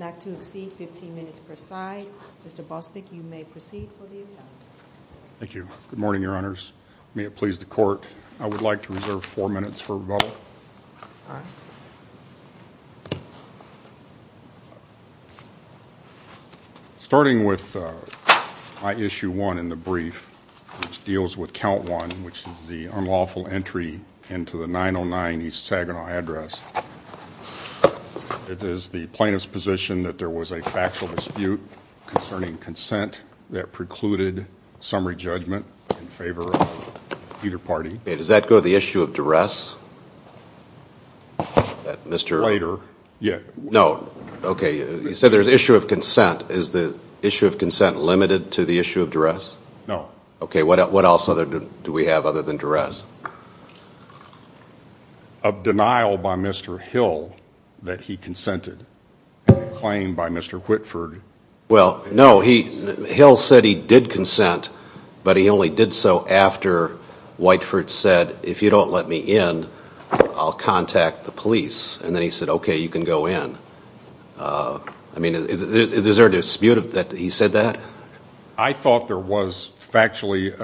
not to exceed 15 minutes per side. Mr. Bostick, you may proceed for the advonite. Thank you. Good morning, Your Honors. May it please the Court, I would like to reserve four minutes for rebuttal. Starting with my issue one in the brief, which deals with count one, which is the unlawful entry into the 909 East Saginaw address. It is the plaintiff's position that there was a factual dispute concerning consent that precluded summary judgment in favor of either party. Does that go to the issue of duress? Later. No, okay, you said there's issue of consent. Is the issue of consent limited to the issue of duress? No. Okay, what else do we have other than duress? There was a denial by Mr. Hill that he consented, and a claim by Mr. Whitford. Well, no, Hill said he did consent, but he only did so after Whiteford said, if you don't let me in, I'll contact the police. And then he said, okay, you can go in. I mean, is there a dispute that he said that? I thought there was factually,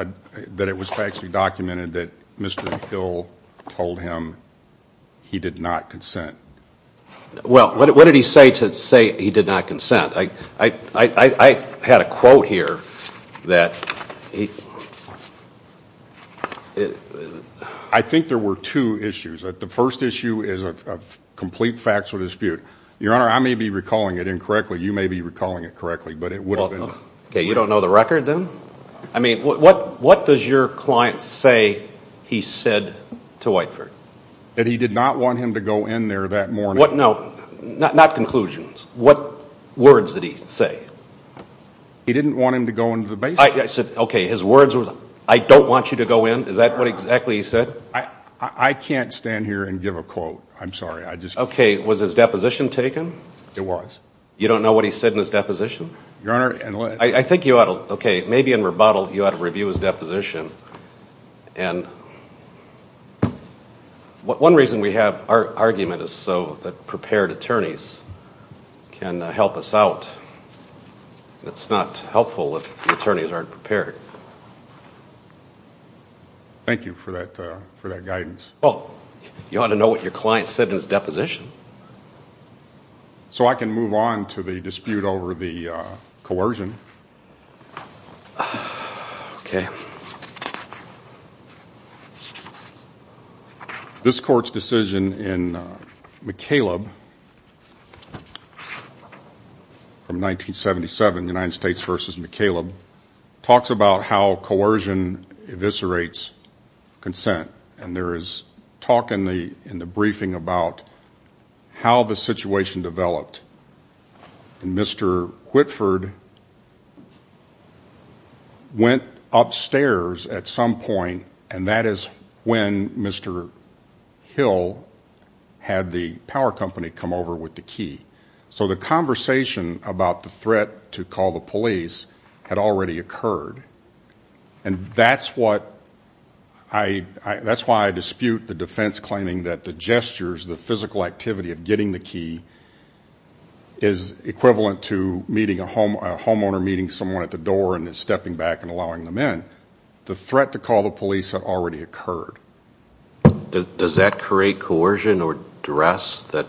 that it was factually documented that Mr. Hill told him he did not consent. Well, what did he say to say he did not consent? I had a quote here that he... I think there were two issues. The first issue is a complete factual dispute. Your Honor, I may be recalling it incorrectly. You may be recalling it correctly, but it would have been... Okay, you don't know the record then? I mean, what does your client say he said to Whiteford? That he did not want him to go in there that morning. What, no, not conclusions. What words did he say? He didn't want him to go into the basement. I said, okay, his words were, I don't want you to go in. Is that what exactly he said? I can't stand here and give a quote. I'm sorry. I just... Okay, was his deposition taken? It was. You don't know what he said in his deposition? Your Honor... I think you ought to, okay, maybe in rebuttal you ought to review his deposition. One reason we have our argument is so that prepared attorneys can help us out. It's not helpful if the attorneys aren't prepared. Thank you for that guidance. Well, you ought to know what your client said in his deposition. So I can move on to the dispute over the coercion. Okay. This Court's decision in McCaleb from 1977, United States v. McCaleb, talks about how coercion eviscerates consent. And there is talk in the briefing about how the situation developed. And Mr. Whitford went upstairs at some point, and that is when Mr. Hill had the power company come over with the key. So the conversation about the threat to call the police had already occurred. And that's why I dispute the defense claiming that the gestures, the physical activity of getting the key, is equivalent to a homeowner meeting someone at the door and then stepping back and allowing them in. The threat to call the police had already occurred. Does that create coercion or duress that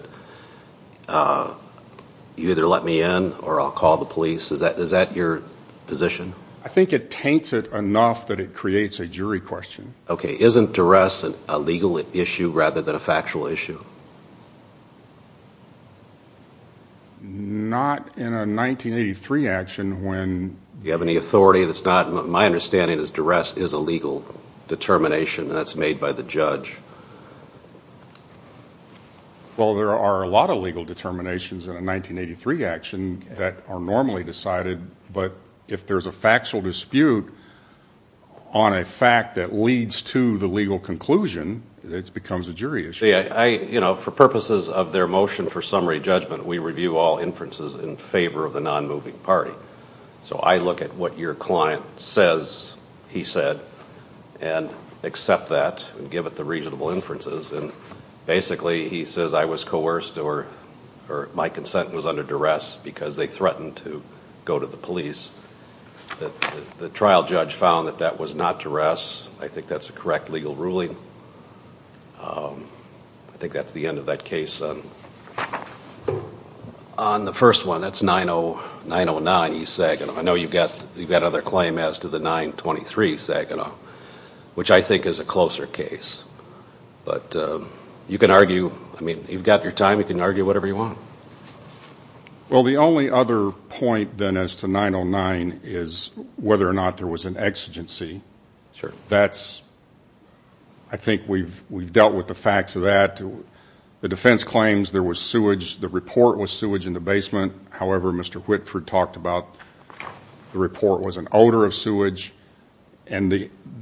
you either let me in or I'll call the police? Is that your position? I think it taints it enough that it creates a jury question. Okay. Isn't duress a legal issue rather than a factual issue? Not in a 1983 action when you have any authority that's not. My understanding is duress is a legal determination. That's made by the judge. Well, there are a lot of legal determinations in a 1983 action that are normally decided, but if there's a factual dispute on a fact that leads to the legal conclusion, it becomes a jury issue. For purposes of their motion for summary judgment, we review all inferences in favor of the non-moving party. So I look at what your client says he said and accept that and give it the reasonable inferences, and basically he says I was coerced or my consent was under duress because they threatened to go to the police. The trial judge found that that was not duress. I think that's a correct legal ruling. I think that's the end of that case. On the first one, that's 909E Saginaw. I know you've got another claim as to the 923 Saginaw, which I think is a closer case. But you can argue. I mean, you've got your time. You can argue whatever you want. Well, the only other point then as to 909 is whether or not there was an exigency. I think we've dealt with the facts of that. The defense claims there was sewage. The report was sewage in the basement. However, Mr. Whitford talked about the report was an odor of sewage. And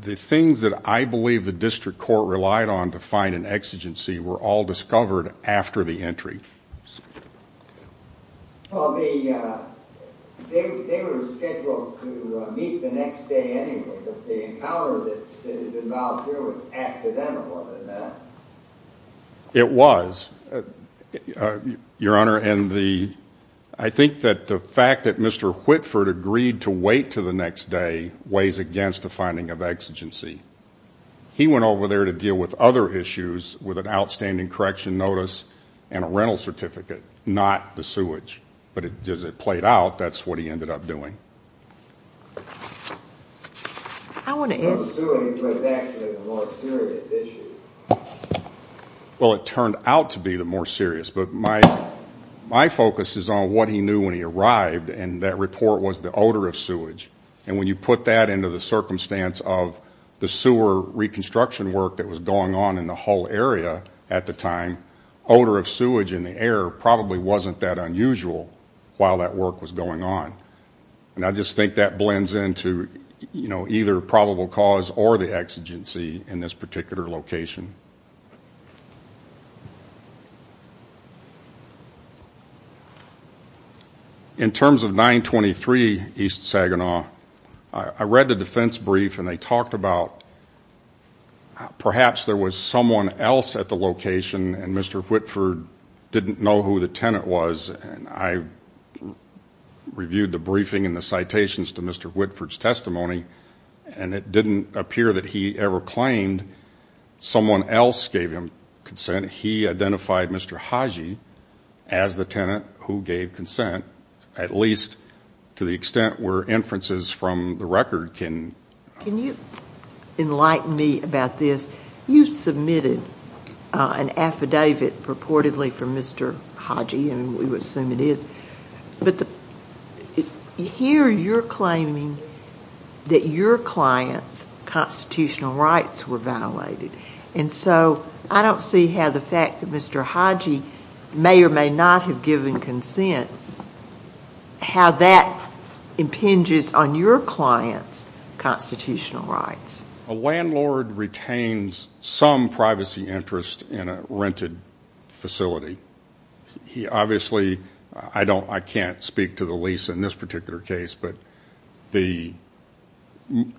the things that I believe the district court relied on to find an exigency were all discovered after the entry. Well, they were scheduled to meet the next day anyway. The encounter that is involved here was accidental, wasn't it, Matt? It was, Your Honor. I think that the fact that Mr. Whitford agreed to wait to the next day weighs against the finding of exigency. He went over there to deal with other issues with an outstanding correction notice and a rental certificate, not the sewage. But as it played out, that's what he ended up doing. The sewage was actually the more serious issue. Well, it turned out to be the more serious. But my focus is on what he knew when he arrived, and that report was the odor of sewage. And when you put that into the circumstance of the sewer reconstruction work that was going on in the whole area at the time, odor of sewage in the air probably wasn't that unusual while that work was going on. And I just think that blends into either probable cause or the exigency in this particular location. In terms of 923 East Saginaw, I read the defense brief and they talked about perhaps there was someone else at the location and Mr. Whitford didn't know who the tenant was. And I reviewed the briefing and the citations to Mr. Whitford's testimony, and it didn't appear that he ever claimed someone else gave him consent. He identified Mr. Haji as the tenant who gave consent, at least to the extent where inferences from the record can. Can you enlighten me about this? You submitted an affidavit purportedly for Mr. Haji, and we would assume it is. But here you're claiming that your client's constitutional rights were violated. And so I don't see how the fact that Mr. Haji may or may not have given consent, how that impinges on your client's constitutional rights. A landlord retains some privacy interest in a rented facility. Obviously, I can't speak to the lease in this particular case, but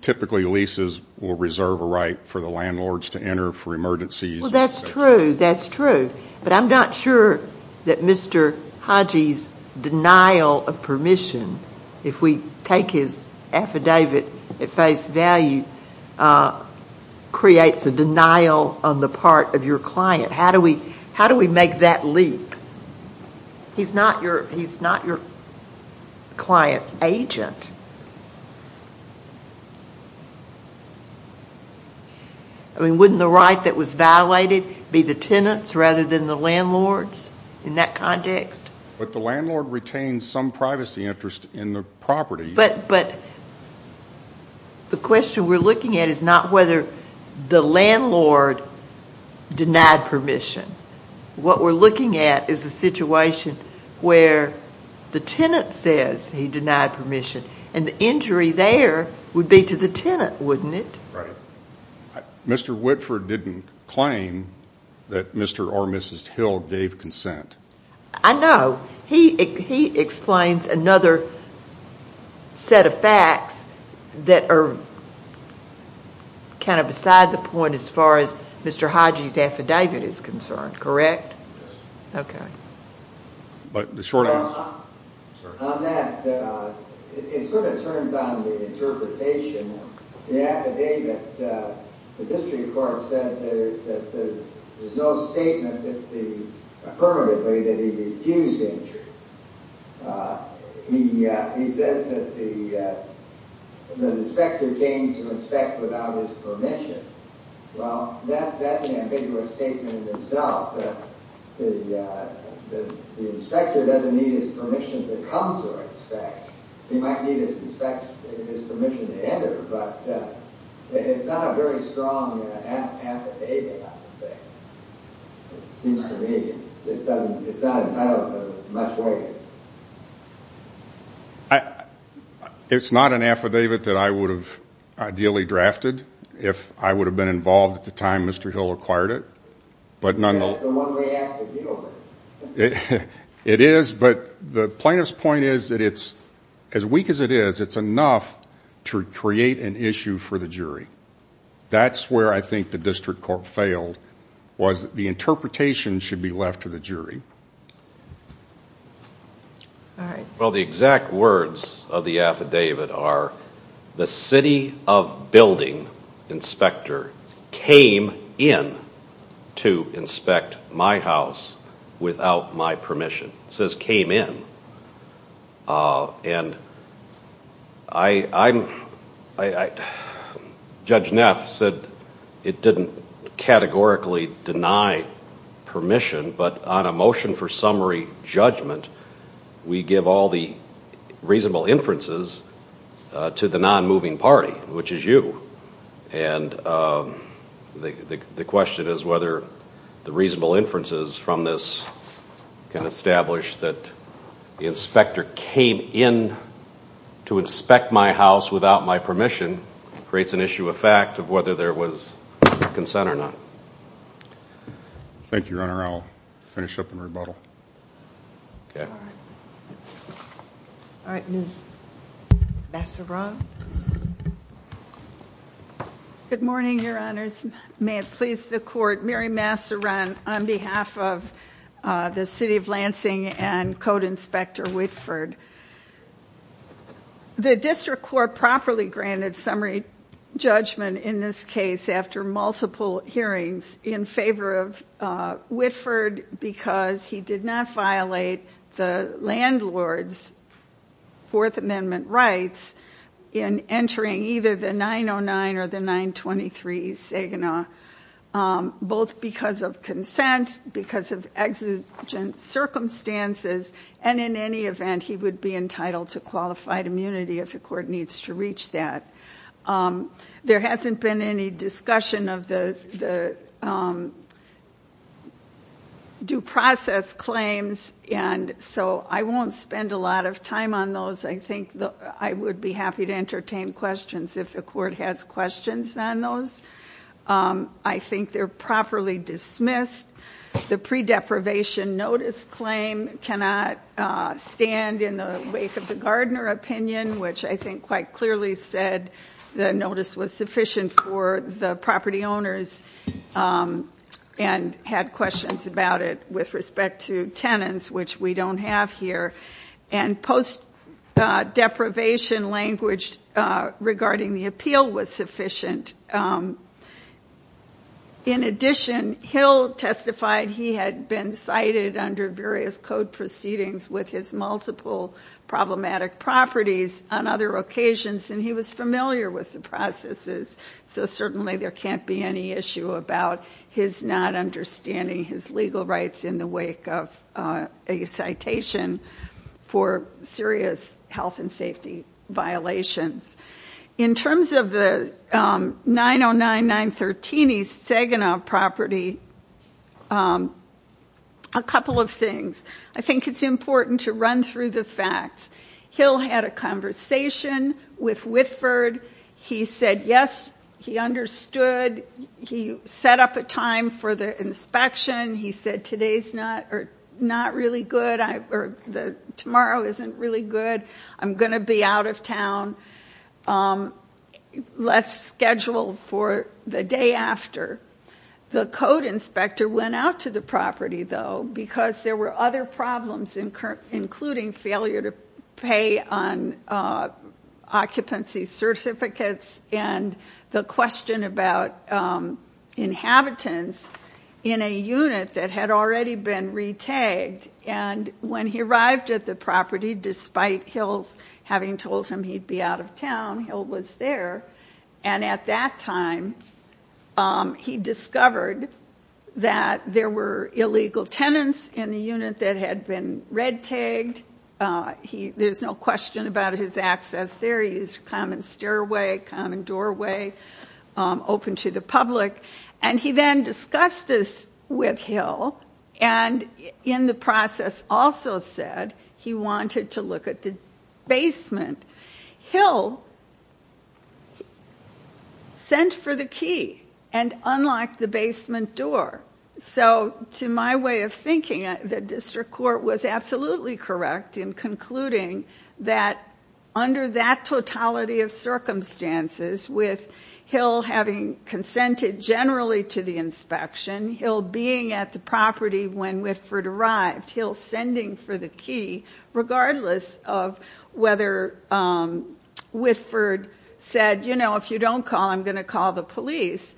typically leases will reserve a right for the landlords to enter for emergencies. Well, that's true, that's true. But I'm not sure that Mr. Haji's denial of permission, if we take his affidavit at face value, creates a denial on the part of your client. How do we make that leap? He's not your client's agent. I mean, wouldn't the right that was violated be the tenant's rather than the landlord's in that context? But the landlord retains some privacy interest in the property. But the question we're looking at is not whether the landlord denied permission. What we're looking at is a situation where the tenant says he denied permission, and the injury there would be to the tenant, wouldn't it? Right. Mr. Whitford didn't claim that Mr. or Mrs. Hill gave consent. I know. He explains another set of facts that are kind of beside the point as far as Mr. Haji's affidavit is concerned, correct? Yes. Okay. But the short answer is no. On that, it sort of turns on the interpretation of the affidavit. The district court said that there's no statement affirmatively that he refused injury. He says that the inspector came to inspect without his permission. Well, that's an ambiguous statement in itself. The inspector doesn't need his permission to come to inspect. He might need his permission to enter, but it's not a very strong affidavit, I would think. It seems to me it's not entitled to much weight. It's not an affidavit that I would have ideally drafted if I would have been involved at the time Mr. Hill acquired it. It's the one we have to deal with. It is, but the plaintiff's point is that it's as weak as it is, it's enough to create an issue for the jury. That's where I think the district court failed was the interpretation should be left to the jury. Well, the exact words of the affidavit are, the city of building inspector came in to inspect my house without my permission. It says came in. Judge Neff said it didn't categorically deny permission, but on a motion for summary judgment, we give all the reasonable inferences to the non-moving party, which is you. And the question is whether the reasonable inferences from this can establish that the inspector came in to inspect my house without my permission creates an issue of fact of whether there was consent or not. Thank you, Your Honor. I'll finish up and rebuttal. Okay. All right, Ms. Masseron. Good morning, Your Honors. May it please the court, Mary Masseron on behalf of the city of Lansing and code inspector Whitford. The district court properly granted summary judgment in this case after multiple hearings in favor of Whitford because he did not violate the landlord's Fourth Amendment rights in entering either the 909 or the 923 Saginaw, both because of consent, because of exigent circumstances, and in any event, he would be entitled to qualified immunity if the court needs to reach that. There hasn't been any discussion of the due process claims, and so I won't spend a lot of time on those. I think I would be happy to entertain questions if the court has questions on those. I think they're properly dismissed. The pre-deprivation notice claim cannot stand in the wake of the Gardner opinion, which I think quite clearly said the notice was sufficient for the property owners and had questions about it with respect to tenants, which we don't have here, and post-deprivation language regarding the appeal was sufficient. In addition, Hill testified he had been cited under various code proceedings with his multiple problematic properties on other occasions, and he was familiar with the processes, so certainly there can't be any issue about his not understanding his legal rights in the wake of a citation for serious health and safety violations. In terms of the 909, 913 East Saginaw property, a couple of things. I think it's important to run through the facts. Hill had a conversation with Whitford. He said, yes, he understood. He set up a time for the inspection. He said, today's not really good, or tomorrow isn't really good. I'm going to be out of town. Let's schedule for the day after. The code inspector went out to the property, though, because there were other problems, including failure to pay on occupancy certificates and the question about inhabitants in a unit that had already been re-tagged. And when he arrived at the property, despite Hills having told him he'd be out of town, Hill was there, and at that time he discovered that there were illegal tenants in the unit that had been red-tagged. There's no question about his access there. He used a common stairway, common doorway, open to the public. And he then discussed this with Hill, and in the process also said he wanted to look at the basement. Hill sent for the key and unlocked the basement door. So to my way of thinking, the district court was absolutely correct in concluding that under that totality of circumstances, with Hill having consented generally to the inspection, Hill being at the property when Whitford arrived, Hill sending for the key regardless of whether Whitford said, you know, if you don't call, I'm going to call the police.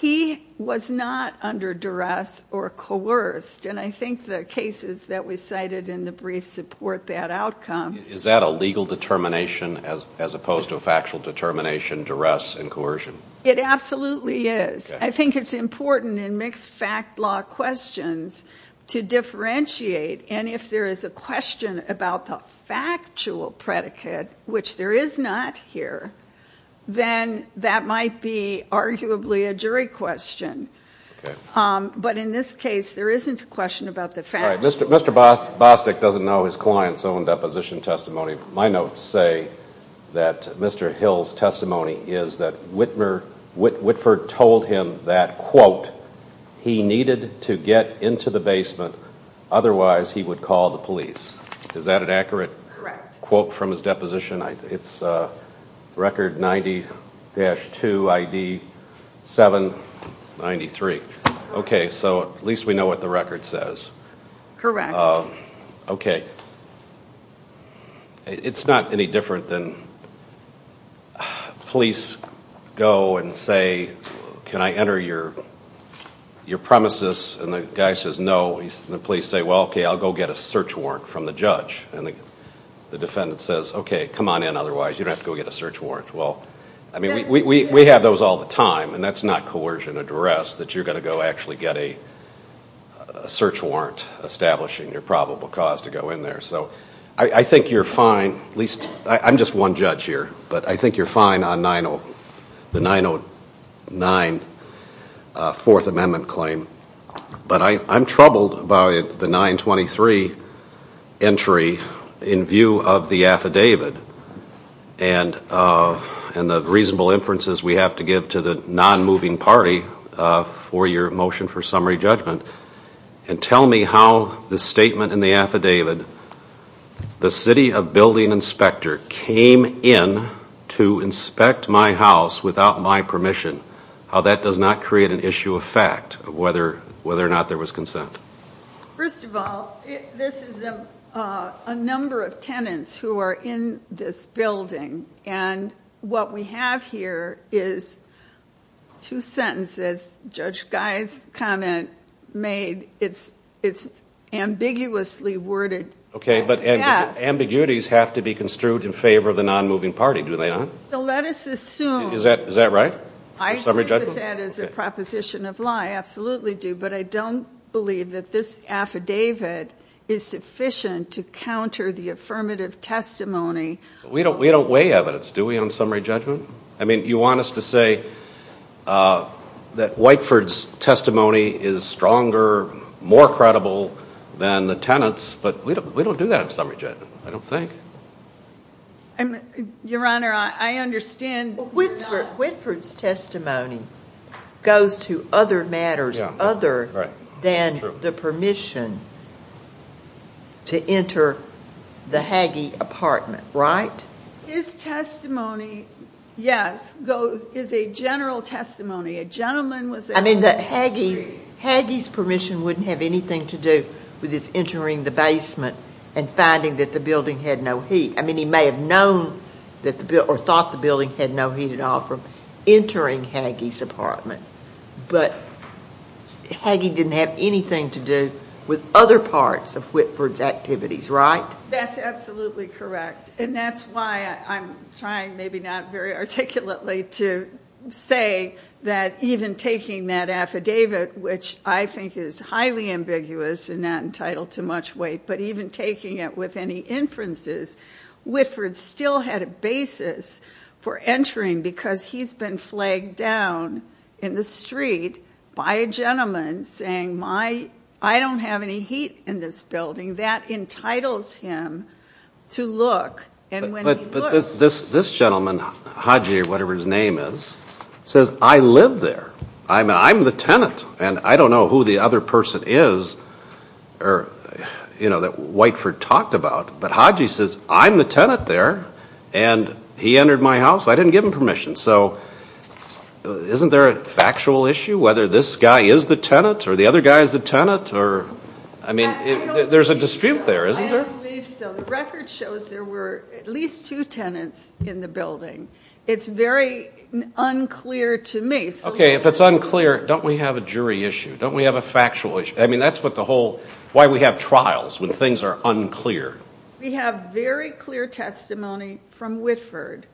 He was not under duress or coerced, and I think the cases that we've cited in the brief support that outcome. Is that a legal determination as opposed to a factual determination, duress and coercion? It absolutely is. I think it's important in mixed fact law questions to differentiate, and if there is a question about the factual predicate, which there is not here, then that might be arguably a jury question. But in this case, there isn't a question about the factual. Mr. Bostic doesn't know his client's own deposition testimony. My notes say that Mr. Hill's testimony is that Whitford told him that, quote, he needed to get into the basement, otherwise he would call the police. Is that an accurate quote from his deposition? It's record 90-2, ID 793. Okay, so at least we know what the record says. Correct. Okay. It's not any different than police go and say, can I enter your premises? And the guy says no, and the police say, well, okay, I'll go get a search warrant from the judge. And the defendant says, okay, come on in, otherwise you don't have to go get a search warrant. Well, I mean, we have those all the time, and that's not coercion or duress, that you're going to go actually get a search warrant establishing your probable cause to go in there. So I think you're fine, at least I'm just one judge here, but I think you're fine on the 909 Fourth Amendment claim. But I'm troubled by the 923 entry in view of the affidavit and the reasonable inferences we have to give to the non-moving party for your motion for summary judgment. And tell me how the statement in the affidavit, the city of building inspector came in to inspect my house without my permission, how that does not create an issue of fact of whether or not there was consent. First of all, this is a number of tenants who are in this building, and what we have here is two sentences Judge Guy's comment made. It's ambiguously worded. Okay, but ambiguities have to be construed in favor of the non-moving party, do they not? So let us assume. Is that right? I agree with that as a proposition of lie, I absolutely do, but I don't believe that this affidavit is sufficient to counter the affirmative testimony. We don't weigh evidence, do we, on summary judgment? I mean, you want us to say that Whiteford's testimony is stronger, more credible than the tenants, but we don't do that on summary judgment, I don't think. Your Honor, I understand. Whiteford's testimony goes to other matters other than the permission to enter the Haggie apartment, right? His testimony, yes, is a general testimony. A gentleman was there on the street. Haggie's permission wouldn't have anything to do with his entering the basement and finding that the building had no heat. I mean, he may have known or thought the building had no heat at all from entering Haggie's apartment, but Haggie didn't have anything to do with other parts of Whiteford's activities, right? That's absolutely correct, and that's why I'm trying maybe not very articulately to say that even taking that affidavit, which I think is highly ambiguous and not entitled to much weight, but even taking it with any inferences, Whiteford still had a basis for entering because he's been flagged down in the street by a gentleman saying, I don't have any heat in this building. That entitles him to look, and when he looks— But this gentleman, Haggie or whatever his name is, says, I live there. I'm the tenant, and I don't know who the other person is that Whiteford talked about, but Haggie says, I'm the tenant there, and he entered my house. I didn't give him permission, so isn't there a factual issue whether this guy is the tenant or the other guy is the tenant? I mean, there's a dispute there, isn't there? I don't believe so. The record shows there were at least two tenants in the building. It's very unclear to me. Okay, if it's unclear, don't we have a jury issue? Don't we have a factual issue? I mean, that's what the whole—why we have trials when things are unclear. We have very clear testimony from Whiteford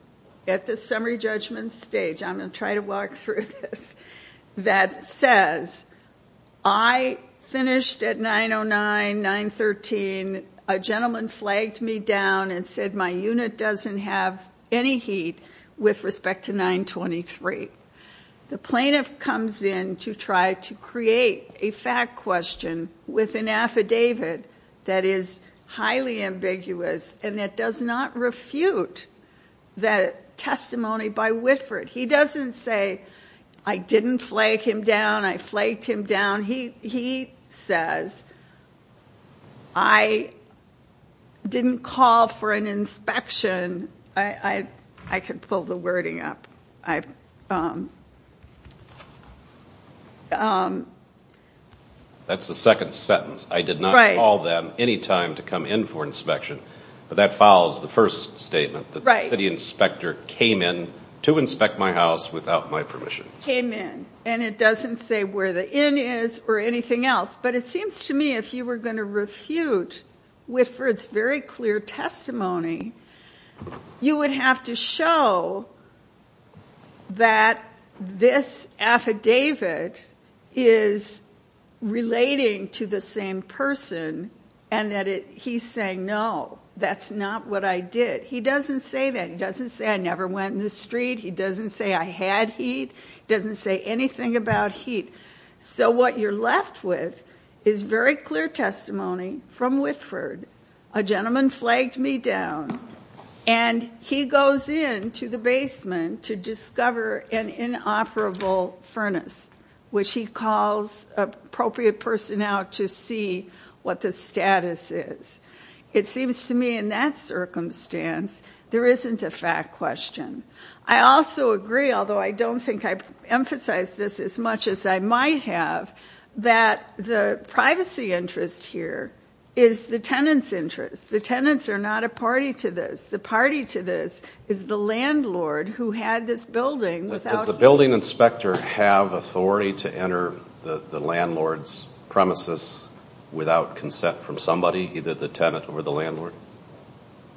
at the summary judgment stage. I'm going to try to walk through this. That says, I finished at 909, 913. A gentleman flagged me down and said my unit doesn't have any heat with respect to 923. The plaintiff comes in to try to create a fact question with an affidavit that is highly ambiguous and that does not refute the testimony by Whiteford. He doesn't say, I didn't flag him down, I flagged him down. He says, I didn't call for an inspection. I could pull the wording up. That's the second sentence. I did not call them any time to come in for inspection. But that follows the first statement, that the city inspector came in to inspect my house without my permission. Came in. And it doesn't say where the inn is or anything else. But it seems to me if you were going to refute Whiteford's very clear testimony, you would have to show that this affidavit is relating to the same person and that he's saying, no, that's not what I did. He doesn't say that. He doesn't say I never went in the street. He doesn't say I had heat. He doesn't say anything about heat. So what you're left with is very clear testimony from Whiteford, a gentleman flagged me down, and he goes in to the basement to discover an inoperable furnace, which he calls appropriate personnel to see what the status is. It seems to me in that circumstance there isn't a fact question. I also agree, although I don't think I've emphasized this as much as I might have, that the privacy interest here is the tenant's interest. The tenants are not a party to this. The party to this is the landlord who had this building without him. Does the building inspector have authority to enter the landlord's premises without consent from somebody, either the tenant or the landlord?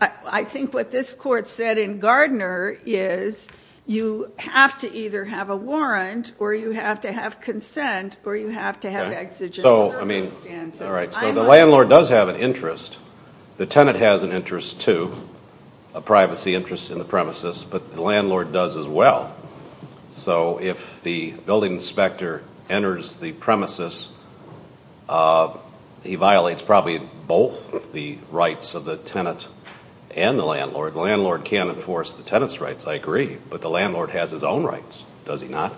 I think what this court said in Gardner is you have to either have a warrant or you have to have consent or you have to have exigent circumstances. So the landlord does have an interest. The tenant has an interest too, a privacy interest in the premises, but the landlord does as well. So if the building inspector enters the premises, he violates probably both the rights of the tenant and the landlord. The landlord can't enforce the tenant's rights, I agree, but the landlord has his own rights, does he not?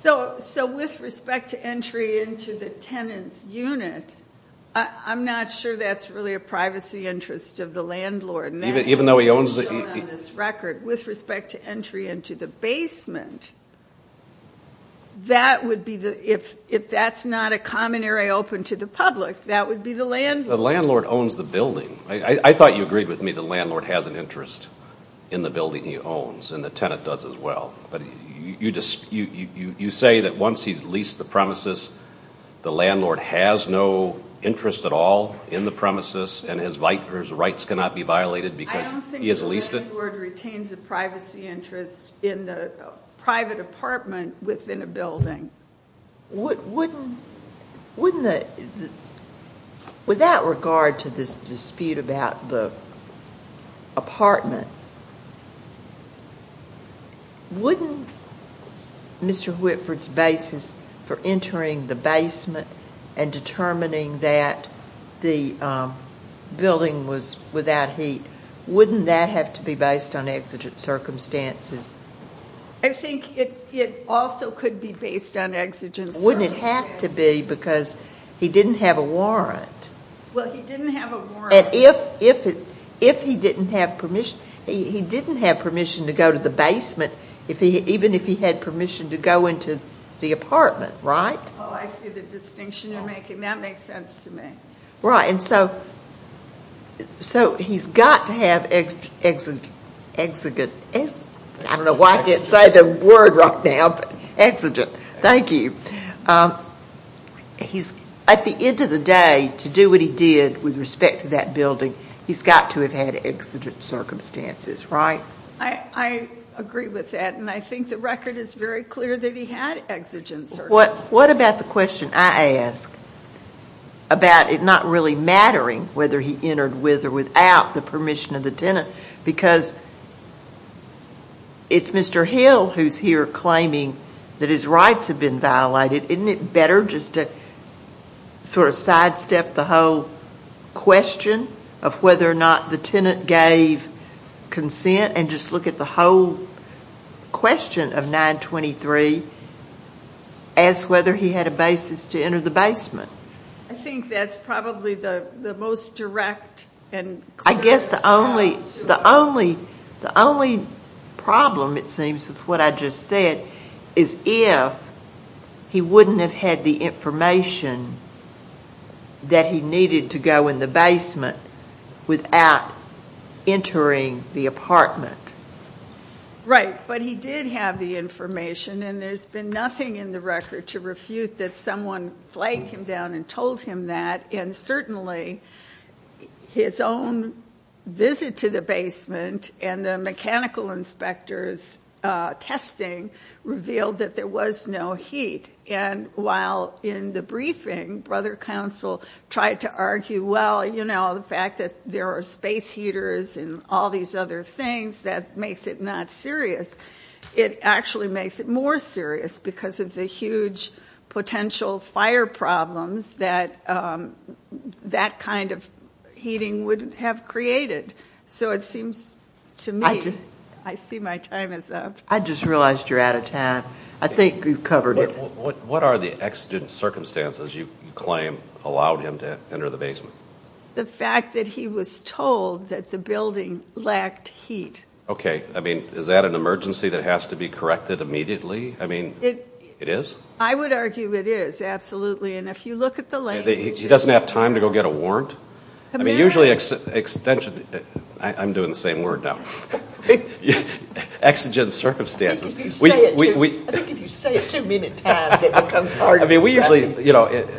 So with respect to entry into the tenant's unit, I'm not sure that's really a privacy interest of the landlord. With respect to entry into the basement, if that's not a common area open to the public, that would be the landlord's. The landlord owns the building. I thought you agreed with me the landlord has an interest in the building he owns and the tenant does as well. But you say that once he's leased the premises, the landlord has no interest at all in the premises and his rights cannot be violated because he has leased it? I don't think the landlord retains a privacy interest in the private apartment within a building. With that regard to this dispute about the apartment, wouldn't Mr. Whitford's basis for entering the basement and determining that the building was without heat, wouldn't that have to be based on exigent circumstances? I think it also could be based on exigent circumstances. Wouldn't it have to be because he didn't have a warrant? Well, he didn't have a warrant. And if he didn't have permission to go to the basement, even if he had permission to go into the apartment, right? Oh, I see the distinction you're making. That makes sense to me. Right. And so he's got to have exigent. I don't know why I didn't say the word right now, but exigent. Thank you. At the end of the day, to do what he did with respect to that building, he's got to have had exigent circumstances, right? I agree with that. And I think the record is very clear that he had exigent circumstances. What about the question I ask about it not really mattering whether he entered with or without the permission of the tenant? Because it's Mr. Hill who's here claiming that his rights have been violated. Isn't it better just to sort of sidestep the whole question of whether or not the tenant gave consent and just look at the whole question of 923 as whether he had a basis to enter the basement? I think that's probably the most direct and clearest challenge. I guess the only problem, it seems, with what I just said, is if he wouldn't have had the information that he needed to go in the basement without entering the apartment. Right. But he did have the information, and there's been nothing in the record to refute that someone flagged him down and told him that, and certainly his own visit to the basement and the mechanical inspector's testing revealed that there was no heat. And while in the briefing, Brother Counsel tried to argue, well, you know, the fact that there are space heaters and all these other things, that makes it not serious. It actually makes it more serious because of the huge potential fire problems that that kind of heating would have created. So it seems to me, I see my time is up. I just realized you're out of time. I think you've covered it. What are the exigent circumstances you claim allowed him to enter the basement? The fact that he was told that the building lacked heat. Okay. I mean, is that an emergency that has to be corrected immediately? I mean, it is? I would argue it is, absolutely. And if you look at the language. He doesn't have time to go get a warrant? I mean, usually extension, I'm doing the same word now. Exigent circumstances. I think if you say it too many times, it becomes hard to understand. I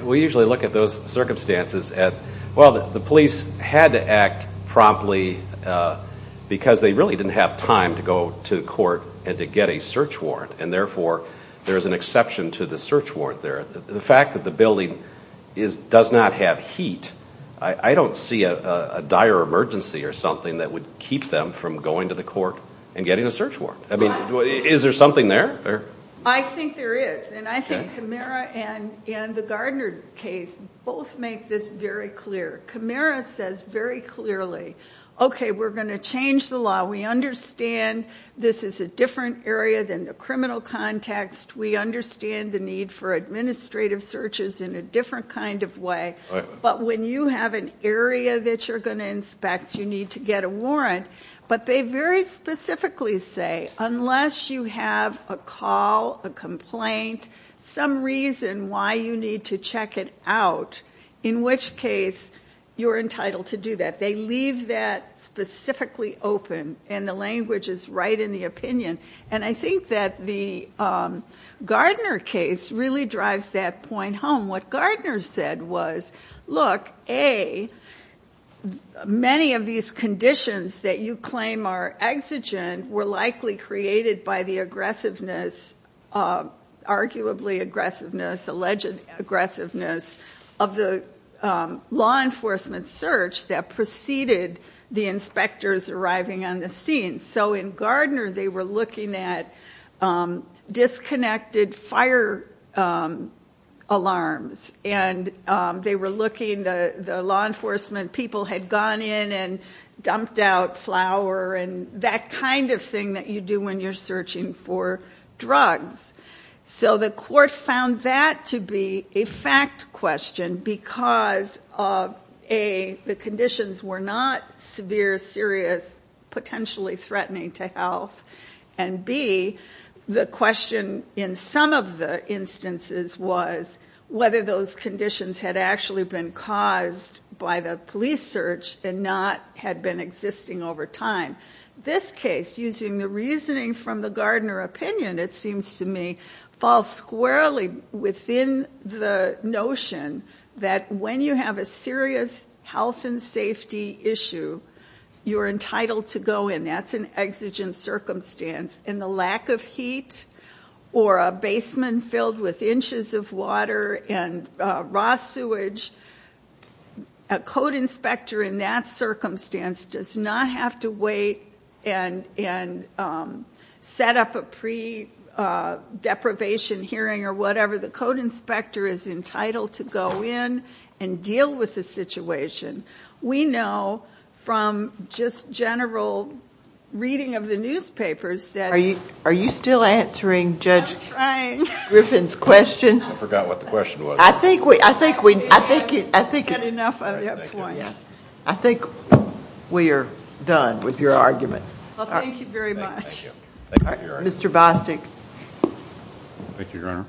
mean, we usually look at those circumstances as, well, the police had to act promptly because they really didn't have time to go to court and to get a search warrant, and therefore there is an exception to the search warrant there. The fact that the building does not have heat, I don't see a dire emergency or something that would keep them from going to the court and getting a search warrant. I mean, is there something there? I think there is. And I think Camara and the Gardner case both make this very clear. Camara says very clearly, okay, we're going to change the law. We understand this is a different area than the criminal context. We understand the need for administrative searches in a different kind of way. But when you have an area that you're going to inspect, you need to get a warrant. But they very specifically say, unless you have a call, a complaint, some reason why you need to check it out, in which case you're entitled to do that. They leave that specifically open, and the language is right in the opinion. And I think that the Gardner case really drives that point home. What Gardner said was, look, A, many of these conditions that you claim are exigent were likely created by the aggressiveness, arguably aggressiveness, alleged aggressiveness of the law enforcement search that preceded the inspectors arriving on the scene. So in Gardner, they were looking at disconnected fire alarms, and they were looking, the law enforcement people had gone in and dumped out flour and that kind of thing that you do when you're searching for drugs. So the court found that to be a fact question because, A, the conditions were not severe, serious, potentially threatening to health. And, B, the question in some of the instances was whether those conditions had actually been caused by the police search and not had been existing over time. This case, using the reasoning from the Gardner opinion, it seems to me, falls squarely within the notion that when you have a serious health and safety issue, you're entitled to go in. That's an exigent circumstance. And the lack of heat or a basement filled with inches of water and raw sewage, a code inspector in that circumstance does not have to wait and set up a pre-deprivation hearing or whatever. The code inspector is entitled to go in and deal with the situation. We know from just general reading of the newspapers that Are you still answering Judge Griffin's question? I forgot what the question was. I think we are done with your argument. Thank you very much. Mr. Bostic. Thank you, Your Honor.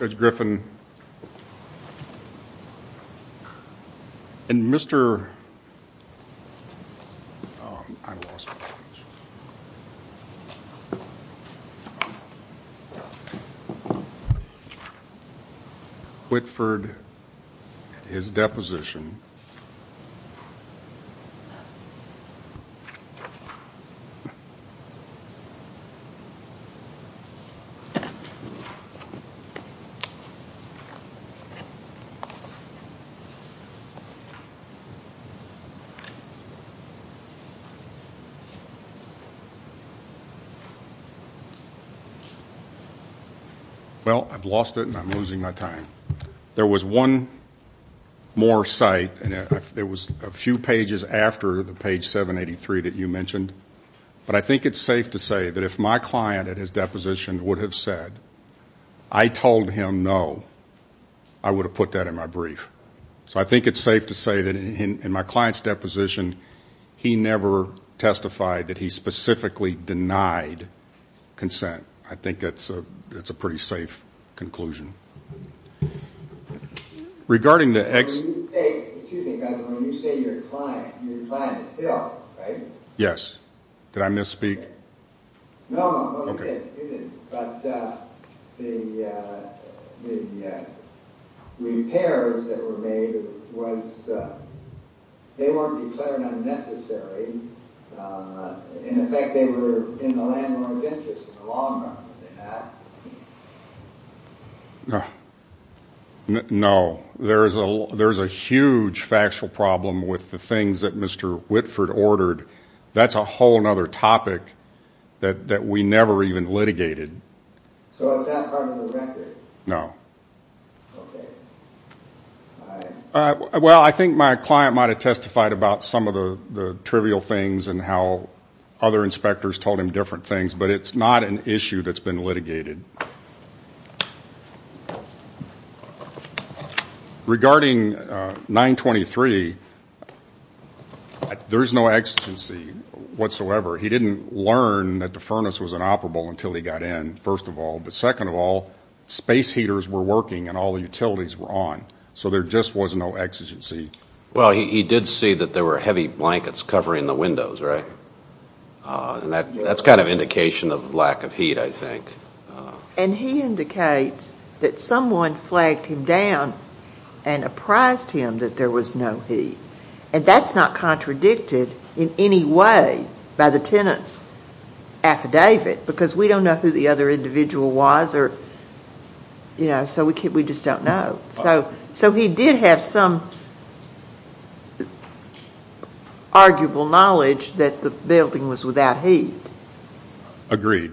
Judge Griffin. Thank you, Your Honor. And Mr. Well, I've lost it, and I'm losing my time. There was one more site, and it was a few pages after the page 783 that you mentioned, but I think it's safe to say that if my client at his deposition would have said, I told him no, I would have put that in my brief. So I think it's safe to say that in my client's deposition, he never testified that he specifically denied consent. I think that's a pretty safe conclusion. When you say your client, your client is still, right? Yes. Did I misspeak? No, you didn't. But the repairs that were made, they weren't declared unnecessary. In effect, they were in the landlord's interest for the long run. No. There's a huge factual problem with the things that Mr. Whitford ordered. That's a whole other topic that we never even litigated. So it's not part of the record? No. Okay. All right. Well, I think my client might have testified about some of the trivial things and how other inspectors told him different things, but it's not an issue that's been litigated. Regarding 923, there's no exigency whatsoever. He didn't learn that the furnace was inoperable until he got in, first of all. But second of all, space heaters were working and all the utilities were on, so there just was no exigency. Well, he did see that there were heavy blankets covering the windows, right? That's kind of an indication of lack of heat, I think. And he indicates that someone flagged him down and apprised him that there was no heat. And that's not contradicted in any way by the tenant's affidavit because we don't know who the other individual was, so we just don't know. So he did have some arguable knowledge that the building was without heat. Agreed.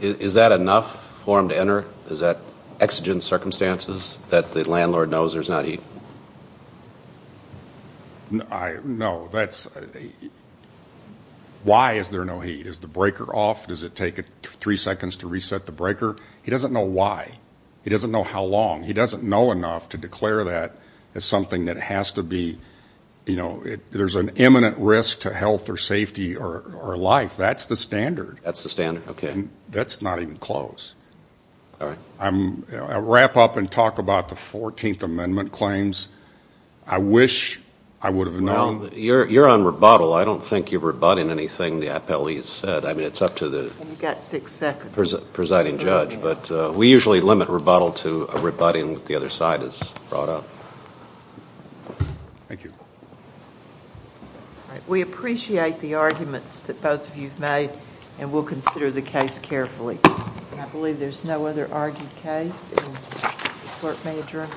Is that enough for him to enter? Is that exigent circumstances that the landlord knows there's not heat? No. Why is there no heat? Is the breaker off? Does it take three seconds to reset the breaker? He doesn't know why. He doesn't know how long. He doesn't know enough to declare that as something that has to be, you know, there's an imminent risk to health or safety or life. That's the standard. That's the standard. Okay. That's not even close. All right. I'll wrap up and talk about the 14th Amendment claims. I wish I would have known. Well, you're on rebuttal. I don't think you're rebutting anything the appellee has said. I mean, it's up to the... You've got six seconds.... presiding judge, but we usually limit rebuttal to a rebutting that the other side has brought up. Thank you. All right. We appreciate the arguments that both of you have made, and we'll consider the case carefully. I believe there's no other argued case. The court may adjourn.